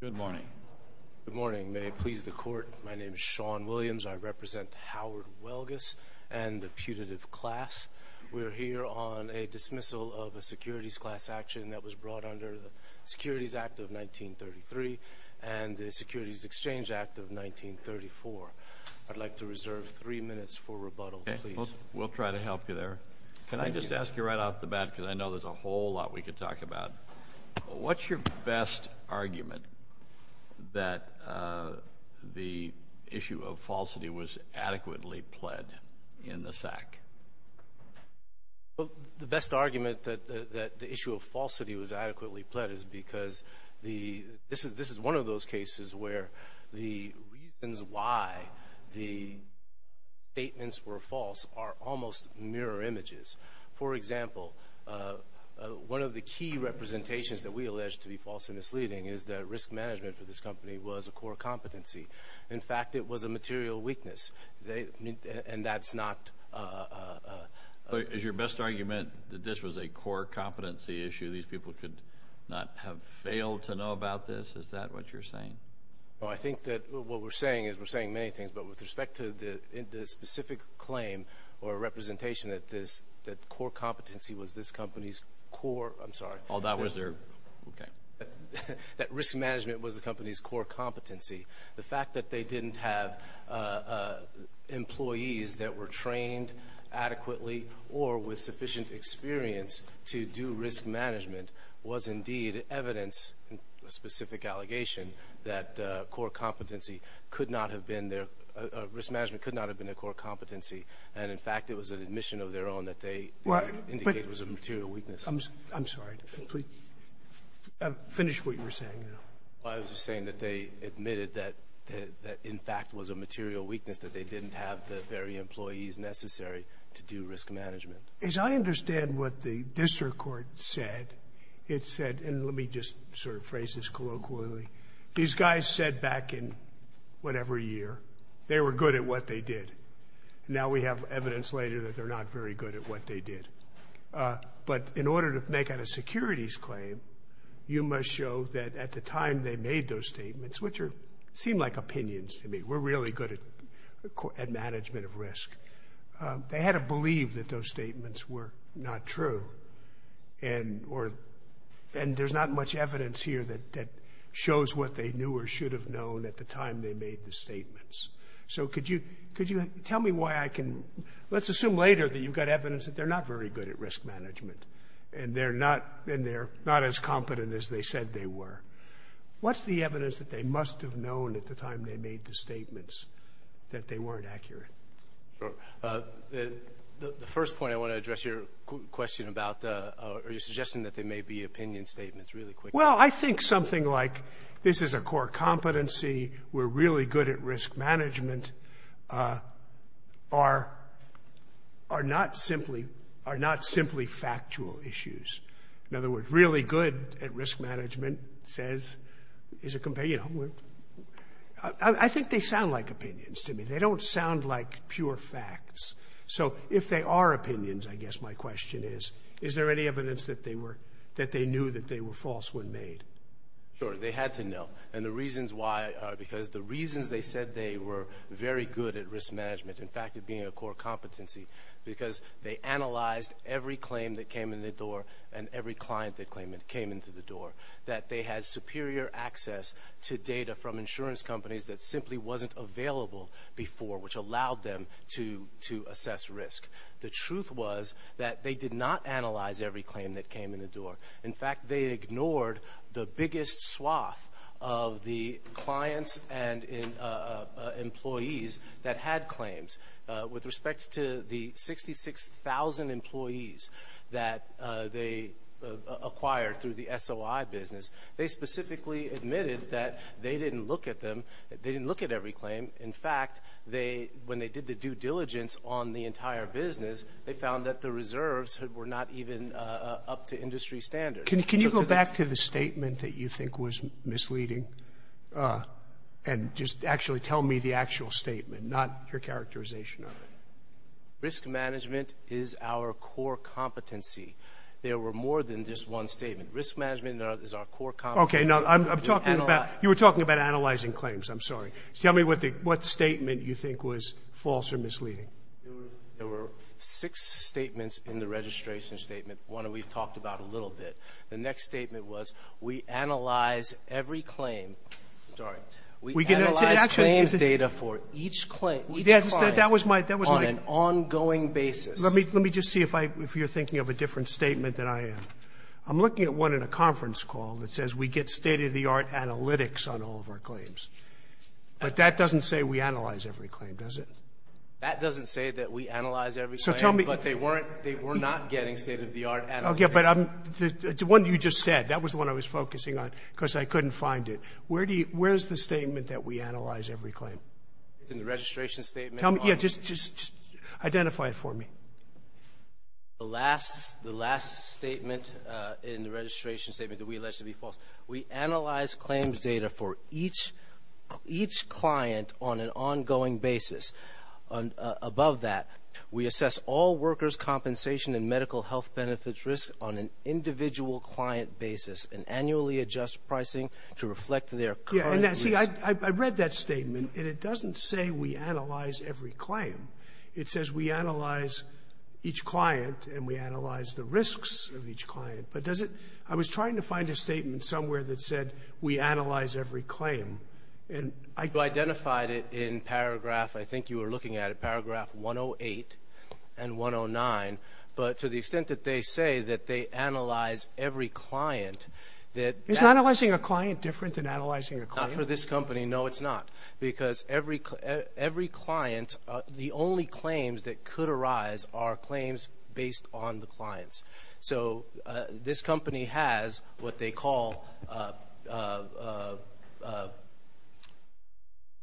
Good morning. Good morning. May it please the Court, my name is Sean Williams. I represent Howard Welgus and the putative class. We're here on a dismissal of a securities class action that was brought under the Securities Act of 1933 and the Securities Exchange Act of 1934. I'd like to reserve three minutes for rebuttal, please. We'll try to help you there. Can I just ask you right off the bat, because I know there's a whole lot we could talk about. What's your best argument that the issue of falsity was adequately pled in the SAC? Well, the best argument that the issue of falsity was adequately pled is because this is one of those cases where the reasons why the statements were false are almost mirror images. For example, one of the key representations that we allege to be false and misleading is that risk management for this company was a core competency. In fact, it was a material weakness, and that's not... Is your best argument that this was a core competency issue, these people could not have failed to know about this? Is that what you're saying? No. I think that what we're saying is we're saying many things. But with respect to the specific claim or representation that this core competency was this company's core, I'm sorry. Oh, that was their... Okay. That risk management was the company's core competency. The fact that they didn't have employees that were trained adequately or with sufficient experience to do risk management was indeed evidence, a specific allegation, that core competency could not have been their risk management could not have been their core competency. And in fact, it was an admission of their own that they indicated was a material weakness. I'm sorry. Finish what you were saying. I was just saying that they admitted that in fact was a material weakness, that they didn't have the very employees necessary to do risk management. As I understand what the district court said, it said, and let me just sort of phrase this colloquially, these guys said back in whatever year, they were good at what they did. Now we have evidence later that they're not very good at what they did. But in order to make out a securities claim, you must show that at the time they made those statements, which seem like opinions to me, we're really good at management of risk. They had to believe that those statements were not true. And there's not much evidence here that shows what they knew or should have known at the time they made the statements. So could you tell me why I can, let's assume later that you've got evidence that they're not very good at risk management and they're not as competent as they said they were. What's the evidence that they must have known at the time they made the statements that they weren't accurate? Sure. The first point I want to address your question about are you suggesting that they may be opinion statements really quickly? Well, I think something like this is a core competency, we're really good at risk management, are not simply factual issues. In other words, really good at risk management says is a companion. I think they sound like opinions to me. They don't sound like pure facts. So if they are opinions, I guess my question is, is there any evidence that they knew that they were false when made? Sure. They had to know. And the reasons why are because the reasons they said they were very good at risk management, in fact, it being a core competency, because they analyzed every claim that came in the door and every client that came into the door, that they had superior access to data from insurance companies that simply wasn't available before, which allowed them to assess risk. The truth was that they did not analyze every claim that came in the door. In fact, they ignored the biggest swath of the clients and employees that had claims. With respect to the 66,000 employees that they acquired through the SOI business, they specifically admitted that they didn't look at them, they didn't look at every claim. In fact, when they did the due diligence on the entire business, they found that the reserves were not even up to industry standards. Can you go back to the statement that you think was misleading and just actually tell me the actual statement, not your characterization of it? Risk management is our core competency. There were more than just one statement. Risk management is our core competency. Okay. You were talking about analyzing claims. I'm sorry. Tell me what statement you think was false or misleading. There were six statements in the registration statement. One we've talked about a little bit. The next statement was we analyze every claim. Sorry. We analyze claims data for each claim, each client on an ongoing basis. Let me just see if you're thinking of a different statement than I am. I'm looking at one in a conference call that says we get state-of-the-art analytics on all of our claims. But that doesn't say we analyze every claim, does it? That doesn't say that we analyze every claim, but they were not getting state-of-the-art analytics. Okay. But the one you just said, that was the one I was focusing on because I couldn't find it. Where is the statement that we analyze every claim? It's in the registration statement. Yeah. Just identify it for me. The last statement in the registration statement that we allege to be false. We analyze claims data for each client on an ongoing basis. Above that, we assess all workers' compensation and medical health benefits risk on an individual client basis and annually adjust pricing to reflect their current risk. See, I read that statement, and it doesn't say we analyze every claim. It says we analyze each client and we analyze the risks of each client. But does it — I was trying to find a statement somewhere that said we analyze every claim. And I — You identified it in paragraph, I think you were looking at it, paragraph 108 and 109. But to the extent that they say that they analyze every client, that — Isn't analyzing a client different than analyzing a claim? Not for this company. No, it's not. Because every — every client, the only claims that could arise are claims based on the clients. So this company has what they call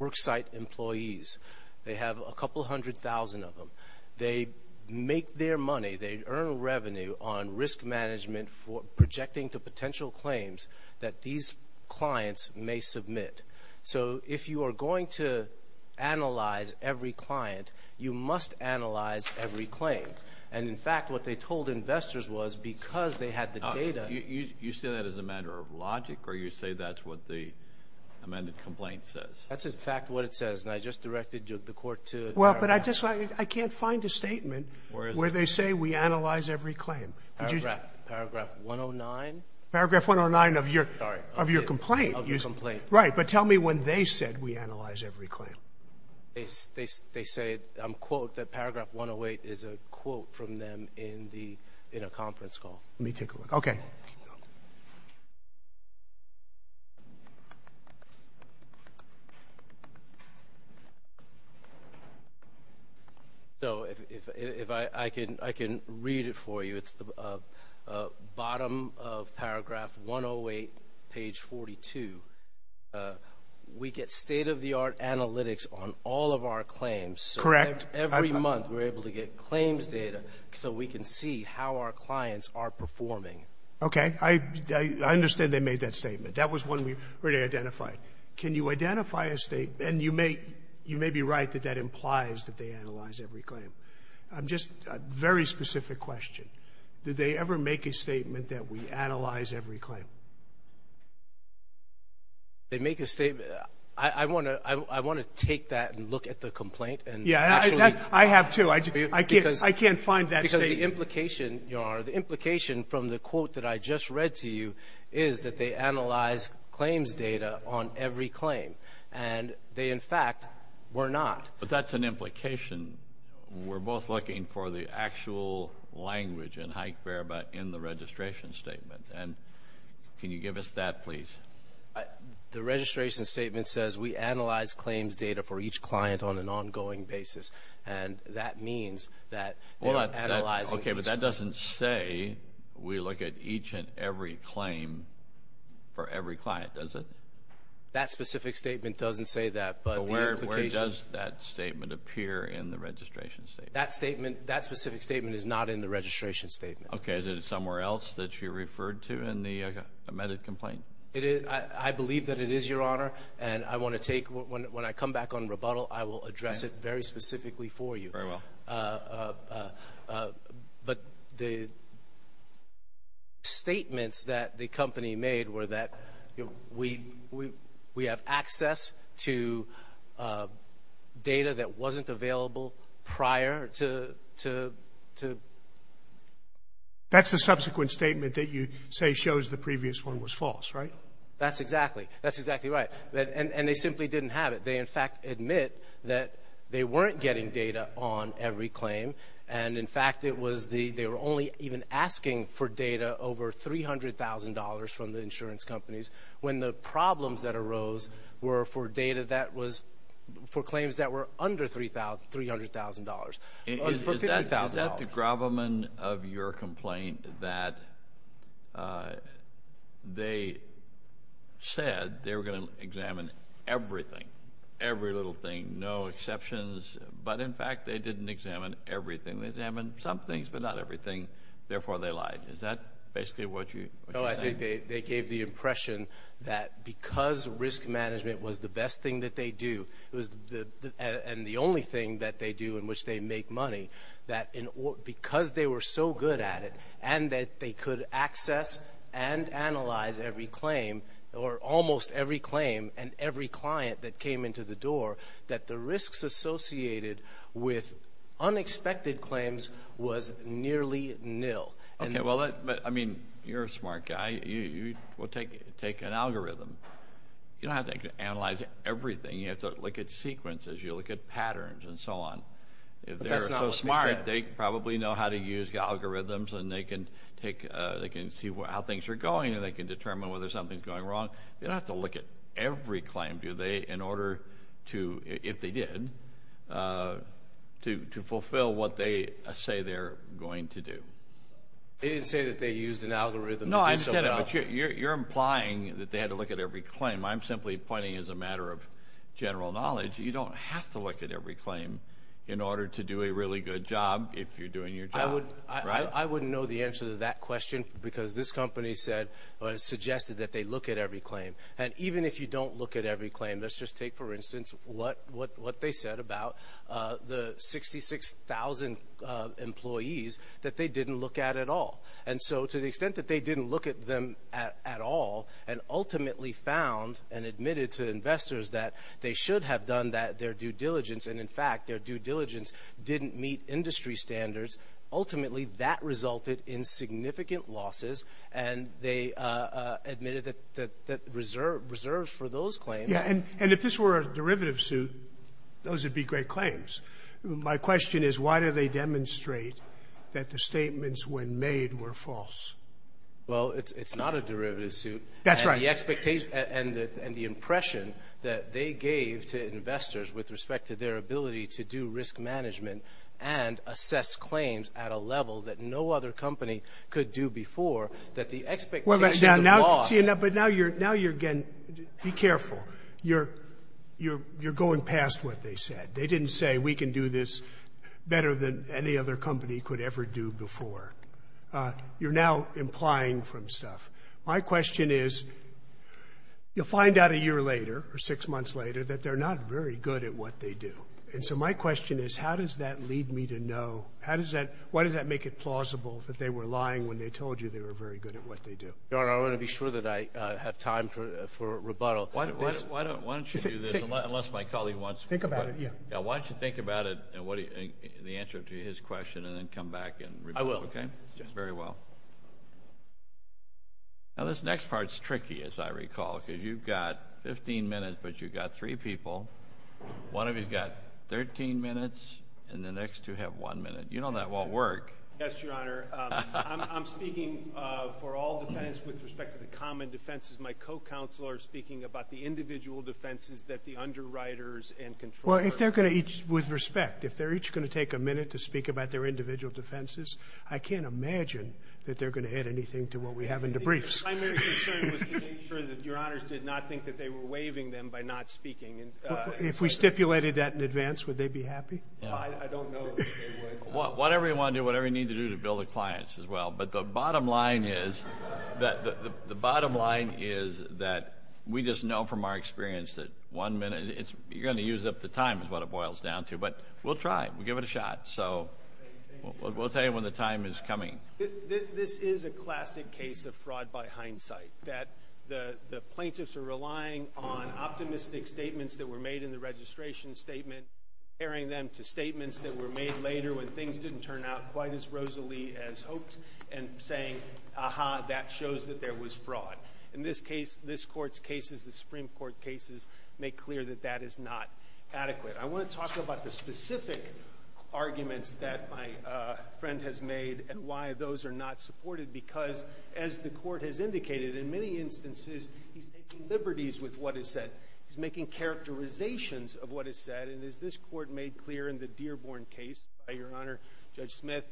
worksite employees. They have a couple hundred thousand of them. They make their money, they earn revenue on risk management for projecting to potential claims that these clients may submit. So if you are going to analyze every client, you must analyze every claim. And, in fact, what they told investors was because they had the data — You say that as a matter of logic, or you say that's what the amended complaint says? That's, in fact, what it says. And I just directed the court to — Well, but I just — I can't find a statement where they say we analyze every claim. Paragraph 109? Paragraph 109 of your — Sorry. Of your complaint. Of your complaint. Right. But tell me when they said we analyze every claim. They said, quote, that paragraph 108 is a quote from them in a conference call. Let me take a look. Okay. So if I can read it for you, it's the bottom of paragraph 108, page 42. We get state-of-the-art analytics on all of our claims. Correct. Every month we're able to get claims data so we can see how our clients are performing. Okay. I understand they made that statement. That was one we already identified. Can you identify a — and you may be right that that implies that they analyze every claim. Just a very specific question. Did they ever make a statement that we analyze every claim? They make a statement. I want to take that and look at the complaint and actually — Yeah, I have, too. I can't find that statement. Because the implication, your Honor, the implication from the quote that I just read to you is that they analyze claims data on every claim. And they, in fact, were not. But that's an implication. We're both looking for the actual language in High Fair but in the registration statement. And can you give us that, please? The registration statement says we analyze claims data for each client on an ongoing basis. And that means that they're analyzing each — Okay, but that doesn't say we look at each and every claim for every client, does it? That specific statement doesn't say that. But where does that statement appear in the registration statement? That statement, that specific statement is not in the registration statement. Okay, is it somewhere else that you referred to in the amended complaint? I believe that it is, your Honor. And I want to take — when I come back on rebuttal, I will address it very specifically for you. Very well. But the statements that the company made were that we have access to data that wasn't available prior to — That's the subsequent statement that you say shows the previous one was false, right? That's exactly. That's exactly right. And they simply didn't have it. They, in fact, admit that they weren't getting data on every claim. And, in fact, it was the — they were only even asking for data over $300,000 from the insurance companies when the problems that arose were for data that was — for claims that were under $300,000, for $50,000. Is that the gravamen of your complaint, that they said they were going to examine everything, every little thing, no exceptions, but, in fact, they didn't examine everything? They examined some things, but not everything. Therefore, they lied. Is that basically what you're saying? No, I think they gave the impression that because risk management was the best thing that they do, and the only thing that they do in which they make money, that because they were so good at it and that they could access and analyze every claim, or almost every claim and every client that came into the door, that the risks associated with unexpected claims was nearly nil. Okay, well, I mean, you're a smart guy. We'll take an algorithm. You don't have to analyze everything. You have to look at sequences. You look at patterns and so on. But that's not what they said. If they're so smart, they probably know how to use algorithms, and they can see how things are going, and they can determine whether something's going wrong. They don't have to look at every claim, do they, in order to — if they did — to fulfill what they say they're going to do. They didn't say that they used an algorithm to do so at all. No, I get it, but you're implying that they had to look at every claim. I'm simply pointing, as a matter of general knowledge, you don't have to look at every claim in order to do a really good job if you're doing your job. I wouldn't know the answer to that question because this company said or suggested that they look at every claim. And even if you don't look at every claim, let's just take, for instance, what they said about the 66,000 employees that they didn't look at at all. And so to the extent that they didn't look at them at all and ultimately found and admitted to investors that they should have done that, their due diligence, and, in fact, their due diligence didn't meet industry standards, ultimately, that resulted in significant losses, and they admitted that reserved for those claims. Yeah. And if this were a derivative suit, those would be great claims. My question is, why do they demonstrate that the statements when made were false? Well, it's not a derivative suit. That's right. And the impression that they gave to investors with respect to their ability to do risk management and assess claims at a level that no other company could do before, that the expectations of loss— Well, but now you're getting—be careful. You're going past what they said. They didn't say we can do this better than any other company could ever do before. You're now implying from stuff. My question is, you'll find out a year later or six months later that they're not very good at what they do. And so my question is, how does that lead me to know— why does that make it plausible that they were lying when they told you they were very good at what they do? Your Honor, I want to be sure that I have time for rebuttal. Think about it. Why don't you think about it and the answer to his question, and then come back and— I will. Very well. Now, this next part is tricky, as I recall, because you've got 15 minutes, but you've got three people. One of you has got 13 minutes, and the next two have one minute. You know that won't work. Yes, Your Honor. I'm speaking for all defense with respect to the common defenses. My co-counselors are speaking about the individual defenses that the underwriters and controllers— Well, if they're going to each—with respect, if they're each going to take a minute to speak about their individual defenses, I can't imagine that they're going to add anything to what we have in the briefs. My main concern was to make sure that Your Honors did not think that they were waiving them by not speaking. If we stipulated that in advance, would they be happy? I don't know that they would. Whatever you want to do, whatever you need to do to bill the clients as well. But the bottom line is that we just know from our experience that one minute—you're going to use up the time is what it boils down to. But we'll try. We'll give it a shot. So we'll tell you when the time is coming. This is a classic case of fraud by hindsight, that the plaintiffs are relying on optimistic statements that were made in the registration statement, comparing them to statements that were made later when things didn't turn out quite as rosily as hoped, and saying, aha, that shows that there was fraud. In this case, this Court's cases, the Supreme Court cases, make clear that that is not adequate. I want to talk about the specific arguments that my friend has made and why those are not supported, because as the Court has indicated, in many instances, he's taking liberties with what is said. He's making characterizations of what is said. And as this Court made clear in the Dearborn case by Your Honor, Judge Smith,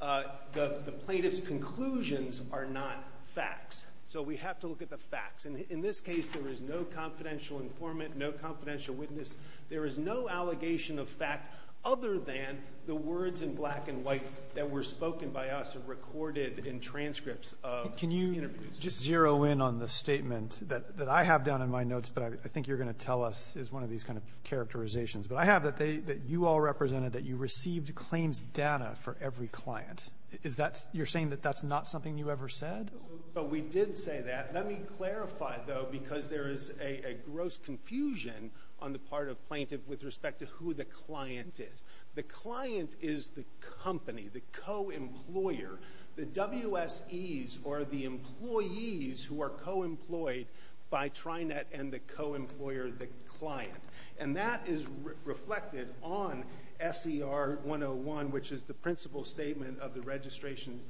the plaintiffs' conclusions are not facts. So we have to look at the facts. And in this case, there is no confidential informant, no confidential witness. There is no allegation of fact other than the words in black and white that were spoken by us and recorded in transcripts of interviews. Just to zero in on the statement that I have down in my notes, but I think you're going to tell us, is one of these kind of characterizations. But I have that you all represented that you received claims data for every client. Is that you're saying that that's not something you ever said? So we did say that. Let me clarify, though, because there is a gross confusion on the part of plaintiff with respect to who the client is. The client is the company, the co-employer. The WSEs are the employees who are co-employed by Trinet and the co-employer, the client. And that is reflected on SER 101, which is the principal statement of the registration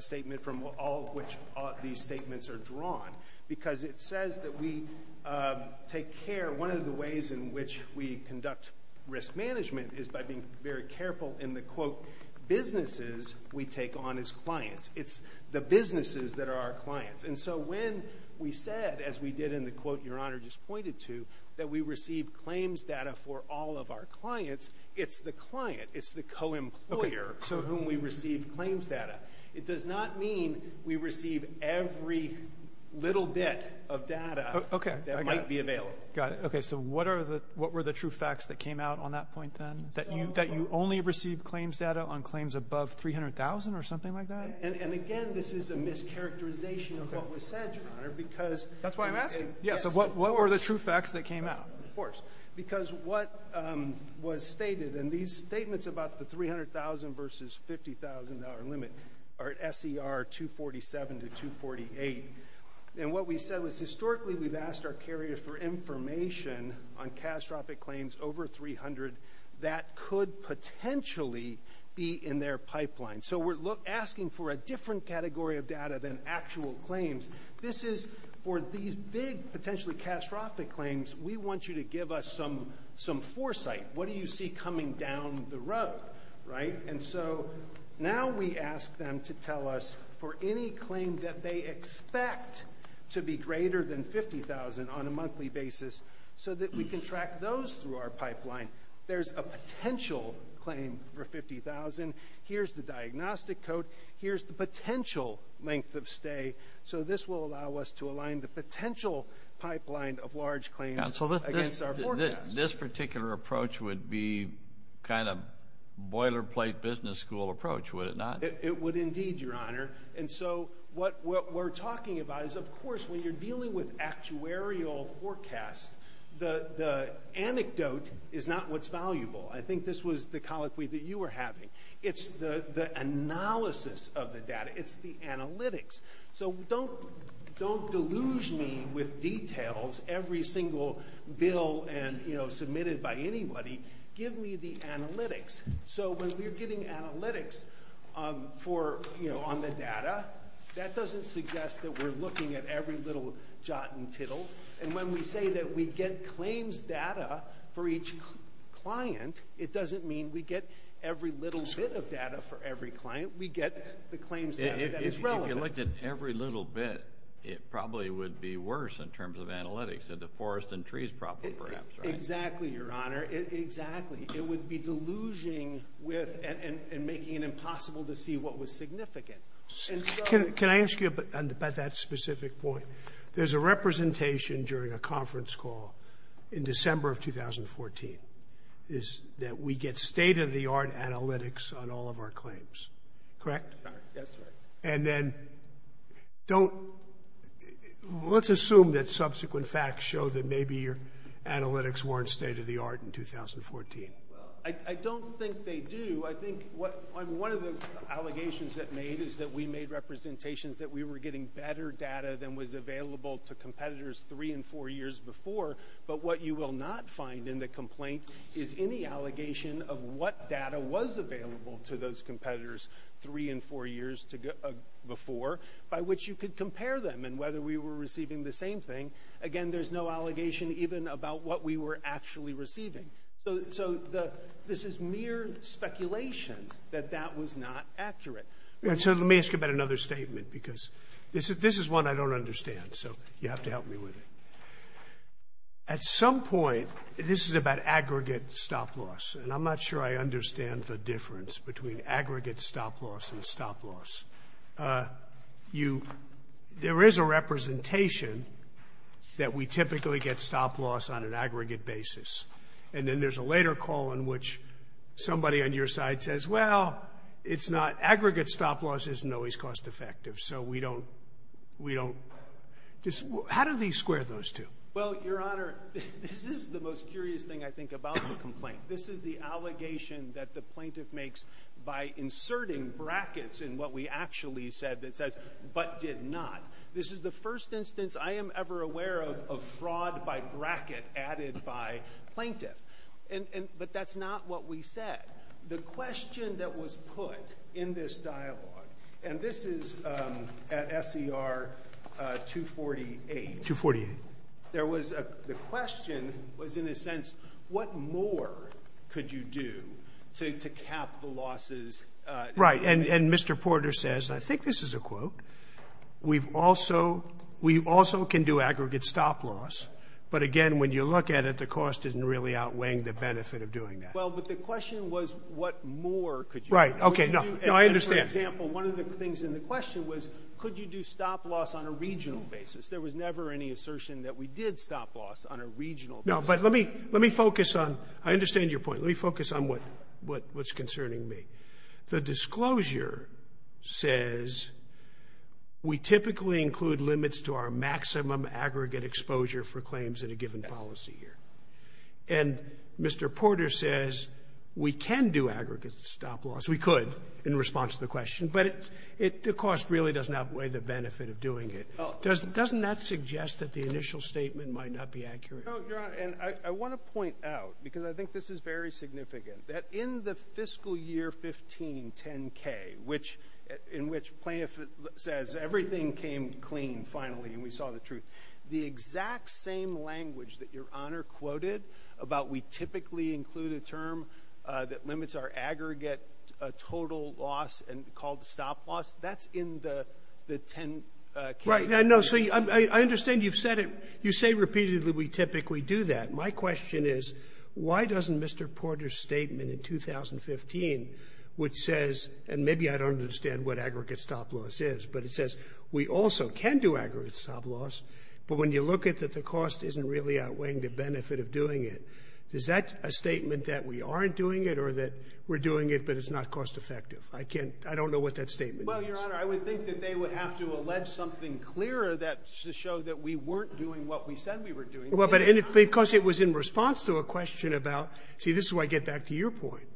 statement from all of which these statements are drawn. Because it says that we take care. One of the ways in which we conduct risk management is by being very careful in the, quote, businesses we take on as clients. It's the businesses that are our clients. And so when we said, as we did in the quote Your Honor just pointed to, that we receive claims data for all of our clients, it's the client. It's the co-employer to whom we receive claims data. It does not mean we receive every little bit of data that might be available. Okay. I got it. Got it. Okay. So what were the true facts that came out on that point then? That you only receive claims data on claims above $300,000 or something like that? And, again, this is a mischaracterization of what was said, Your Honor. That's why I'm asking. Yes. So what were the true facts that came out? Of course. Because what was stated, and these statements about the $300,000 versus $50,000 limit are at SER 247 to 248. And what we said was historically we've asked our carriers for information on catastrophic claims over $300,000 that could potentially be in their pipeline. So we're asking for a different category of data than actual claims. This is for these big, potentially catastrophic claims, we want you to give us some foresight. What do you see coming down the road, right? And so now we ask them to tell us for any claim that they expect to be greater than $50,000 on a monthly basis so that we can track those through our pipeline. There's a potential claim for $50,000. Here's the diagnostic code. Here's the potential length of stay. So this will allow us to align the potential pipeline of large claims against our forecast. Counsel, this particular approach would be kind of boilerplate business school approach, would it not? It would indeed, Your Honor. And so what we're talking about is, of course, when you're dealing with actuarial forecasts, the anecdote is not what's valuable. I think this was the colloquy that you were having. It's the analysis of the data. It's the analytics. So don't deluge me with details every single bill and, you know, submitted by anybody. Give me the analytics. So when we're getting analytics for, you know, on the data, that doesn't suggest that we're looking at every little jot and tittle. And when we say that we get claims data for each client, it doesn't mean we get every little bit of data for every client. We get the claims data that is relevant. If you looked at every little bit, it probably would be worse in terms of analytics than the forest and trees problem, perhaps, right? Exactly, Your Honor. Exactly. It would be deluging with and making it impossible to see what was significant. Can I ask you about that specific point? There's a representation during a conference call in December of 2014 is that we get state-of-the-art analytics on all of our claims. Correct? That's right. And then don't – let's assume that subsequent facts show that maybe your analytics weren't state-of-the-art in 2014. Well, I don't think they do. I think one of the allegations that made is that we made representations that we were getting better data than was available to competitors three and four years before. But what you will not find in the complaint is any allegation of what data was available to those competitors three and four years before, by which you could compare them and whether we were receiving the same thing. Again, there's no allegation even about what we were actually receiving. So this is mere speculation that that was not accurate. So let me ask you about another statement, because this is one I don't understand, so you have to help me with it. At some point, this is about aggregate stop loss, and I'm not sure I understand the difference between aggregate stop loss and stop loss. You – there is a representation that we typically get stop loss on an aggregate basis. And then there's a later call in which somebody on your side says, well, it's not – aggregate stop loss isn't always cost-effective. So we don't – we don't – how do they square those two? Well, Your Honor, this is the most curious thing, I think, about the complaint. This is the allegation that the plaintiff makes by inserting brackets in what we actually said that says, but did not. This is the first instance I am ever aware of of fraud by bracket added by plaintiff. And – but that's not what we said. The question that was put in this dialogue, and this is at SER 248. 248. There was a – the question was, in a sense, what more could you do to cap the losses? Right. And Mr. Porter says, and I think this is a quote, we've also – we also can do aggregate stop loss, but again, when you look at it, the cost isn't really outweighing the benefit of doing that. Well, but the question was, what more could you do? Right. Okay. No. No, I understand. For example, one of the things in the question was, could you do stop loss on a regional basis? There was never any assertion that we did stop loss on a regional basis. No. But let me – let me focus on – I understand your point. Let me focus on what – what's concerning me. The disclosure says we typically include limits to our maximum aggregate exposure for claims at a given policy year. And Mr. Porter says we can do aggregate stop loss. We could in response to the question, but it – the cost really doesn't outweigh the benefit of doing it. Doesn't that suggest that the initial statement might not be accurate? No, Your Honor, and I want to point out, because I think this is very significant, that in the fiscal year 1510k, which – in which plaintiff says everything came clean finally and we saw the truth, the exact same language that Your Honor quoted about we typically include a term that limits our aggregate total loss and called stop loss, that's in the 1010k. Right. No. So I understand you've said it. You say repeatedly we typically do that. My question is why doesn't Mr. Porter's statement in 2015, which says – and maybe I don't understand what aggregate stop loss is, but it says we also can do aggregate stop loss, but when you look at that the cost isn't really outweighing the benefit of doing it, is that a statement that we aren't doing it or that we're doing it, but it's not cost effective? I can't – I don't know what that statement is. Well, Your Honor, I would think that they would have to allege something clearer that – to show that we weren't doing what we said we were doing. Well, but because it was in response to a question about – see, this is where I get back to your point.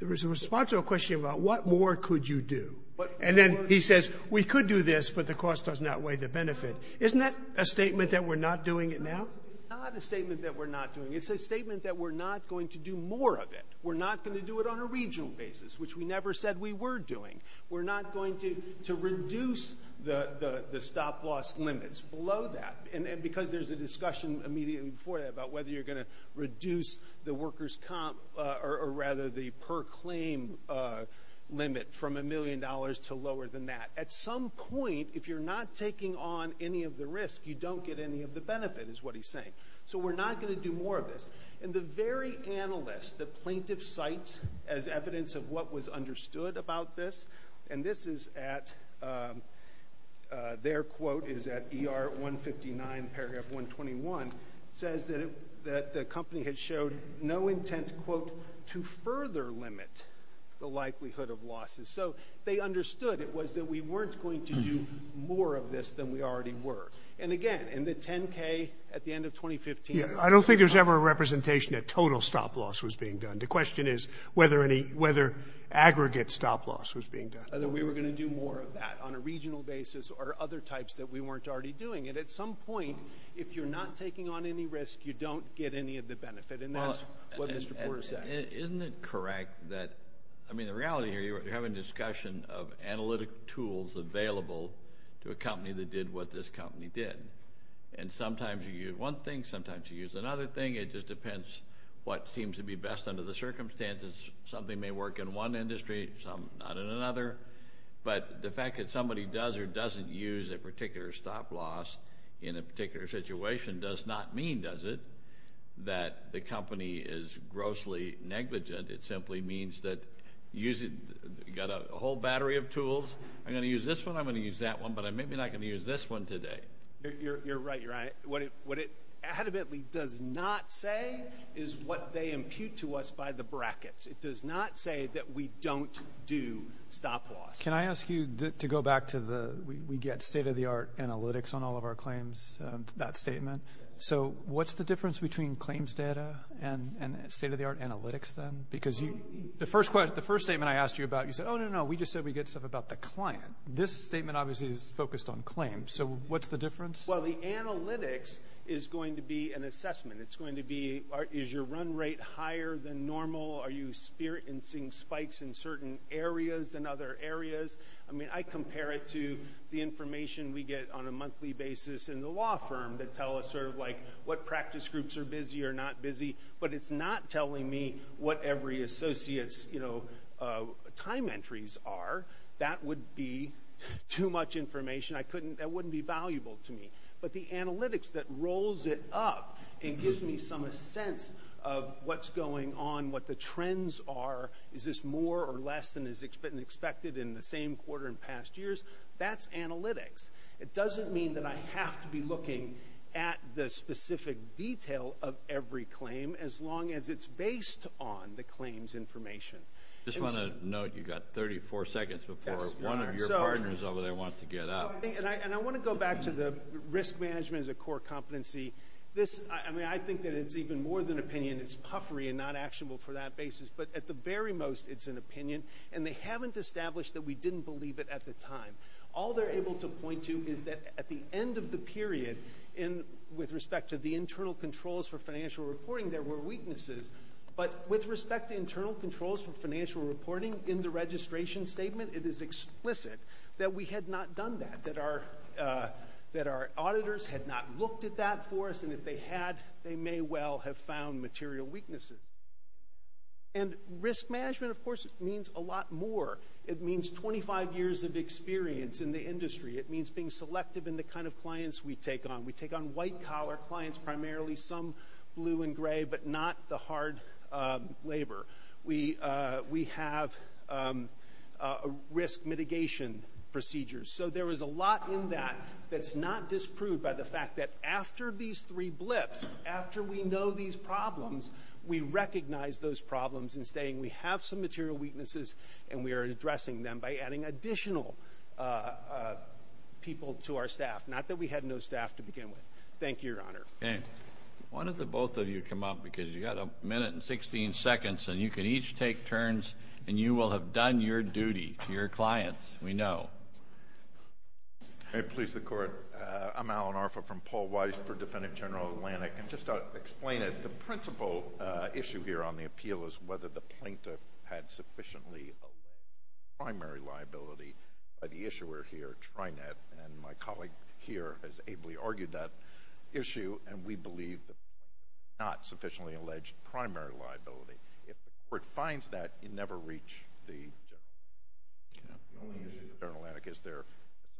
There was a response to a question about what more could you do. And then he says we could do this, but the cost does not weigh the benefit. Isn't that a statement that we're not doing it now? It's not a statement that we're not doing it. It's a statement that we're not going to do more of it. We're not going to do it on a regional basis, which we never said we were doing. We're not going to reduce the stop loss limits below that. And because there's a discussion immediately before that about whether you're going to reduce the workers' comp – or rather, the per claim limit from a million dollars to lower than that. At some point, if you're not taking on any of the risk, you don't get any of the benefit, is what he's saying. So we're not going to do more of this. And the very analyst, the plaintiff, cites as evidence of what was understood about this, and this is at – their quote is at ER 159, paragraph 121. It says that the company had showed no intent, quote, to further limit the likelihood of losses. So they understood it was that we weren't going to do more of this than we already were. And again, in the 10K at the end of 2015 – Yeah, I don't think there was ever a representation that total stop loss was being done. The question is whether any – whether aggregate stop loss was being done. Whether we were going to do more of that on a regional basis or other types that we weren't already doing. And at some point, if you're not taking on any risk, you don't get any of the benefit, and that's what Mr. Porter said. Isn't it correct that – I mean, the reality here, you're having a discussion of analytic tools available to a company that did what this company did. And sometimes you use one thing, sometimes you use another thing. It just depends what seems to be best under the circumstances. Something may work in one industry, some not in another. But the fact that somebody does or doesn't use a particular stop loss in a particular situation does not mean, does it, that the company is grossly negligent. It simply means that you've got a whole battery of tools. I'm going to use this one, I'm going to use that one, but I'm maybe not going to use this one today. You're right. What it adamantly does not say is what they impute to us by the brackets. It does not say that we don't do stop loss. Can I ask you to go back to the we get state-of-the-art analytics on all of our claims, that statement. So what's the difference between claims data and state-of-the-art analytics then? Because the first statement I asked you about, you said, oh, no, no, no, we just said we get stuff about the client. This statement obviously is focused on claims. So what's the difference? Well, the analytics is going to be an assessment. It's going to be, is your run rate higher than normal? Are you experiencing spikes in certain areas than other areas? I mean, I compare it to the information we get on a monthly basis in the law firm that tell us sort of like what practice groups are busy or not busy, but it's not telling me what every associate's time entries are. That would be too much information. That wouldn't be valuable to me. But the analytics that rolls it up and gives me some sense of what's going on, what the trends are, is this more or less than is expected in the same quarter and past years, that's analytics. It doesn't mean that I have to be looking at the specific detail of every claim as long as it's based on the claims information. I just want to note you've got 34 seconds before one of your partners over there wants to get up. And I want to go back to the risk management as a core competency. I mean, I think that it's even more than opinion. It's puffery and not actionable for that basis. But at the very most, it's an opinion, and they haven't established that we didn't believe it at the time. All they're able to point to is that at the end of the period, with respect to the internal controls for financial reporting, there were weaknesses. But with respect to internal controls for financial reporting in the registration statement, it is explicit that we had not done that, that our auditors had not looked at that for us, and if they had, they may well have found material weaknesses. And risk management, of course, means a lot more. It means 25 years of experience in the industry. It means being selective in the kind of clients we take on. We take on white-collar clients, primarily some blue and gray, but not the hard labor. We have risk mitigation procedures. So there is a lot in that that's not disproved by the fact that after these three blips, after we know these problems, we recognize those problems in saying we have some material weaknesses and we are addressing them by adding additional people to our staff, not that we had no staff to begin with. Thank you, Your Honor. Okay. Why don't the both of you come up? Because you've got a minute and 16 seconds, and you can each take turns, and you will have done your duty to your clients, we know. May it please the Court. I'm Alan Arfa from Paul Weiss for Defendant General Atlantic. And just to explain it, the principal issue here on the appeal is whether the plaintiff had sufficiently alleged primary liability by the issuer here, Trinet, and my colleague here has ably argued that issue, and we believe the plaintiff had not sufficiently alleged primary liability. If the Court finds that, you never reach the judgment. The only issue with General Atlantic is their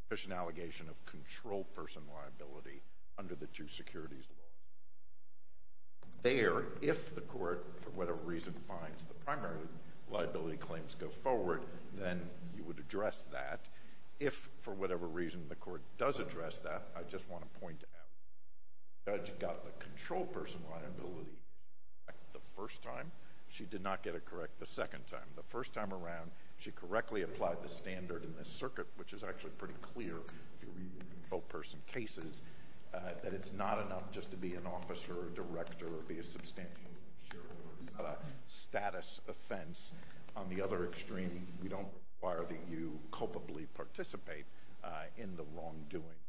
sufficient allegation of controlled person liability under the two securities laws. There, if the Court, for whatever reason, finds the primary liability claims go forward, then you would address that. If, for whatever reason, the Court does address that, I just want to point out, the judge got the controlled person liability correct the first time. She did not get it correct the second time. The first time around, she correctly applied the standard in this circuit, which is actually pretty clear if you read the controlled person cases, that it's not enough just to be an officer or a director or be a substantial shareholder. It's not a status offense. On the other extreme, we don't require that you culpably participate in the wrongdoing.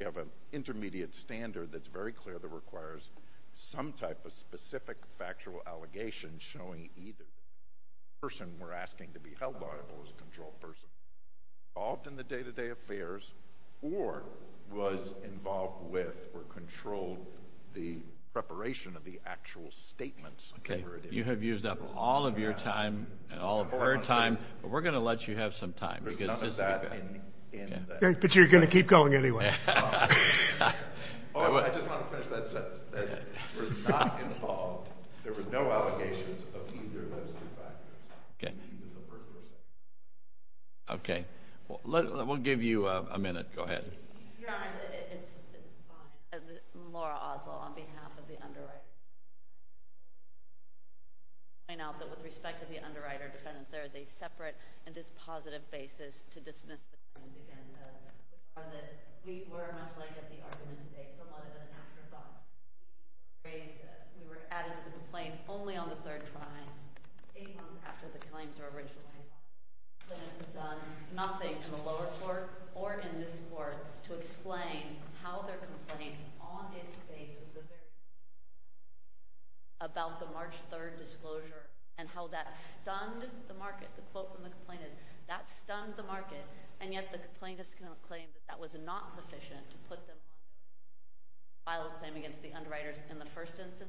You have an intermediate standard that's very clear that requires some type of specific factual allegation showing either the person we're asking to be held liable is a controlled person. Involved in the day-to-day affairs or was involved with or controlled the preparation of the actual statements. Okay. You have used up all of your time and all of her time, but we're going to let you have some time. There's none of that in that. But you're going to keep going anyway. I just want to finish that sentence, that we're not involved. There were no allegations of either of those two factors. Okay. We'll give you a minute. Go ahead. Your Honor, it's fine. Laura Oswald on behalf of the underwriter. I note that with respect to the underwriter defendant, there is a separate and dispositive basis to dismiss the claims against Oswald. We were much like at the argument today, somewhat of an afterthought. We were adding to the complaint only on the third try, eight months after the claims were originally filed. The plaintiffs have done nothing in the lower court or in this court to explain how their complaint, on its face of the very first day, about the March 3rd disclosure and how that stunned the market. The quote from the complainant is, that stunned the market, and yet the plaintiffs claim that that was not sufficient to put them on trial and file a claim against the underwriters in the first instance of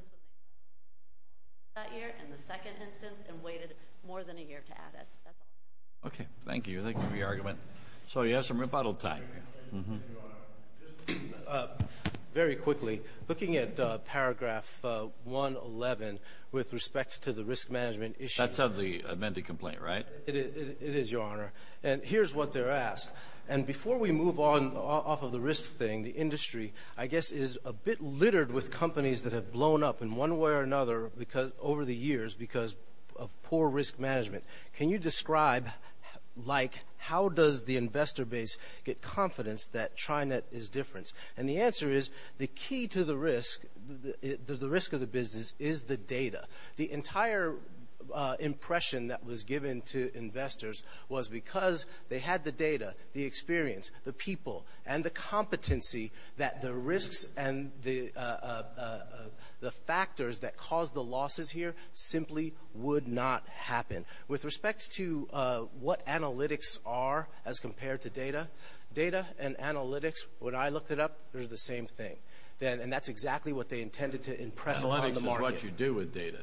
that year, and the second instance, and waited more than a year to add us. That's all. Okay. Thank you. Thank you for your argument. So you have some rebuttal time. Very quickly, looking at paragraph 111 with respect to the risk management issue. That's of the amended complaint, right? It is, Your Honor. And here's what they're asked. And before we move on off of the risk thing, the industry, I guess, is a bit littered with companies that have blown up in one way or another over the years because of poor risk management. Can you describe, like, how does the investor base get confidence that Trinet is different? And the answer is, the key to the risk, the risk of the business, is the data. The entire impression that was given to investors was because they had the data, the experience, the people, and the competency that the risks and the factors that caused the losses here simply would not happen. With respect to what analytics are as compared to data, data and analytics, when I looked it up, they were the same thing, and that's exactly what they intended to impress on the market. Analytics is what you do with data.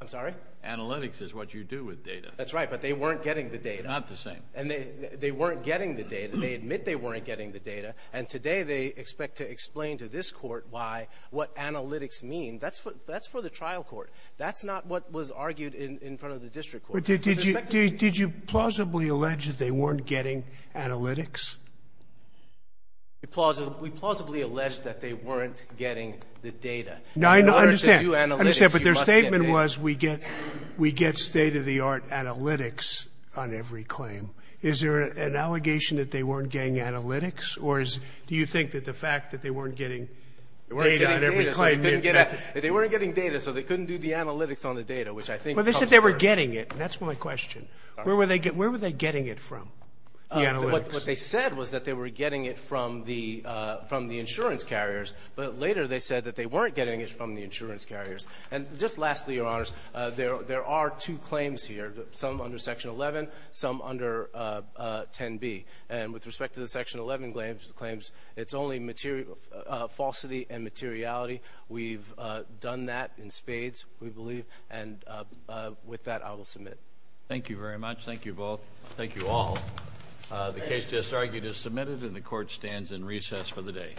I'm sorry? Analytics is what you do with data. That's right, but they weren't getting the data. They're not the same. And they weren't getting the data. They admit they weren't getting the data. And today they expect to explain to this Court why, what analytics mean. That's for the trial court. That's not what was argued in front of the district court. But did you plausibly allege that they weren't getting analytics? We plausibly allege that they weren't getting the data. In order to do analytics, you must get data. My question was, we get state-of-the-art analytics on every claim. Is there an allegation that they weren't getting analytics, or do you think that the fact that they weren't getting data on every claim? They weren't getting data, so they couldn't do the analytics on the data, which I think comes first. Well, they said they were getting it, and that's my question. Where were they getting it from, the analytics? What they said was that they were getting it from the insurance carriers, but later they said that they weren't getting it from the insurance carriers. And just lastly, Your Honors, there are two claims here, some under Section 11, some under 10b. And with respect to the Section 11 claims, it's only falsity and materiality. We've done that in spades, we believe. And with that, I will submit. Thank you very much. Thank you both. Thank you all. The case just argued is submitted, and the Court stands in recess for the day.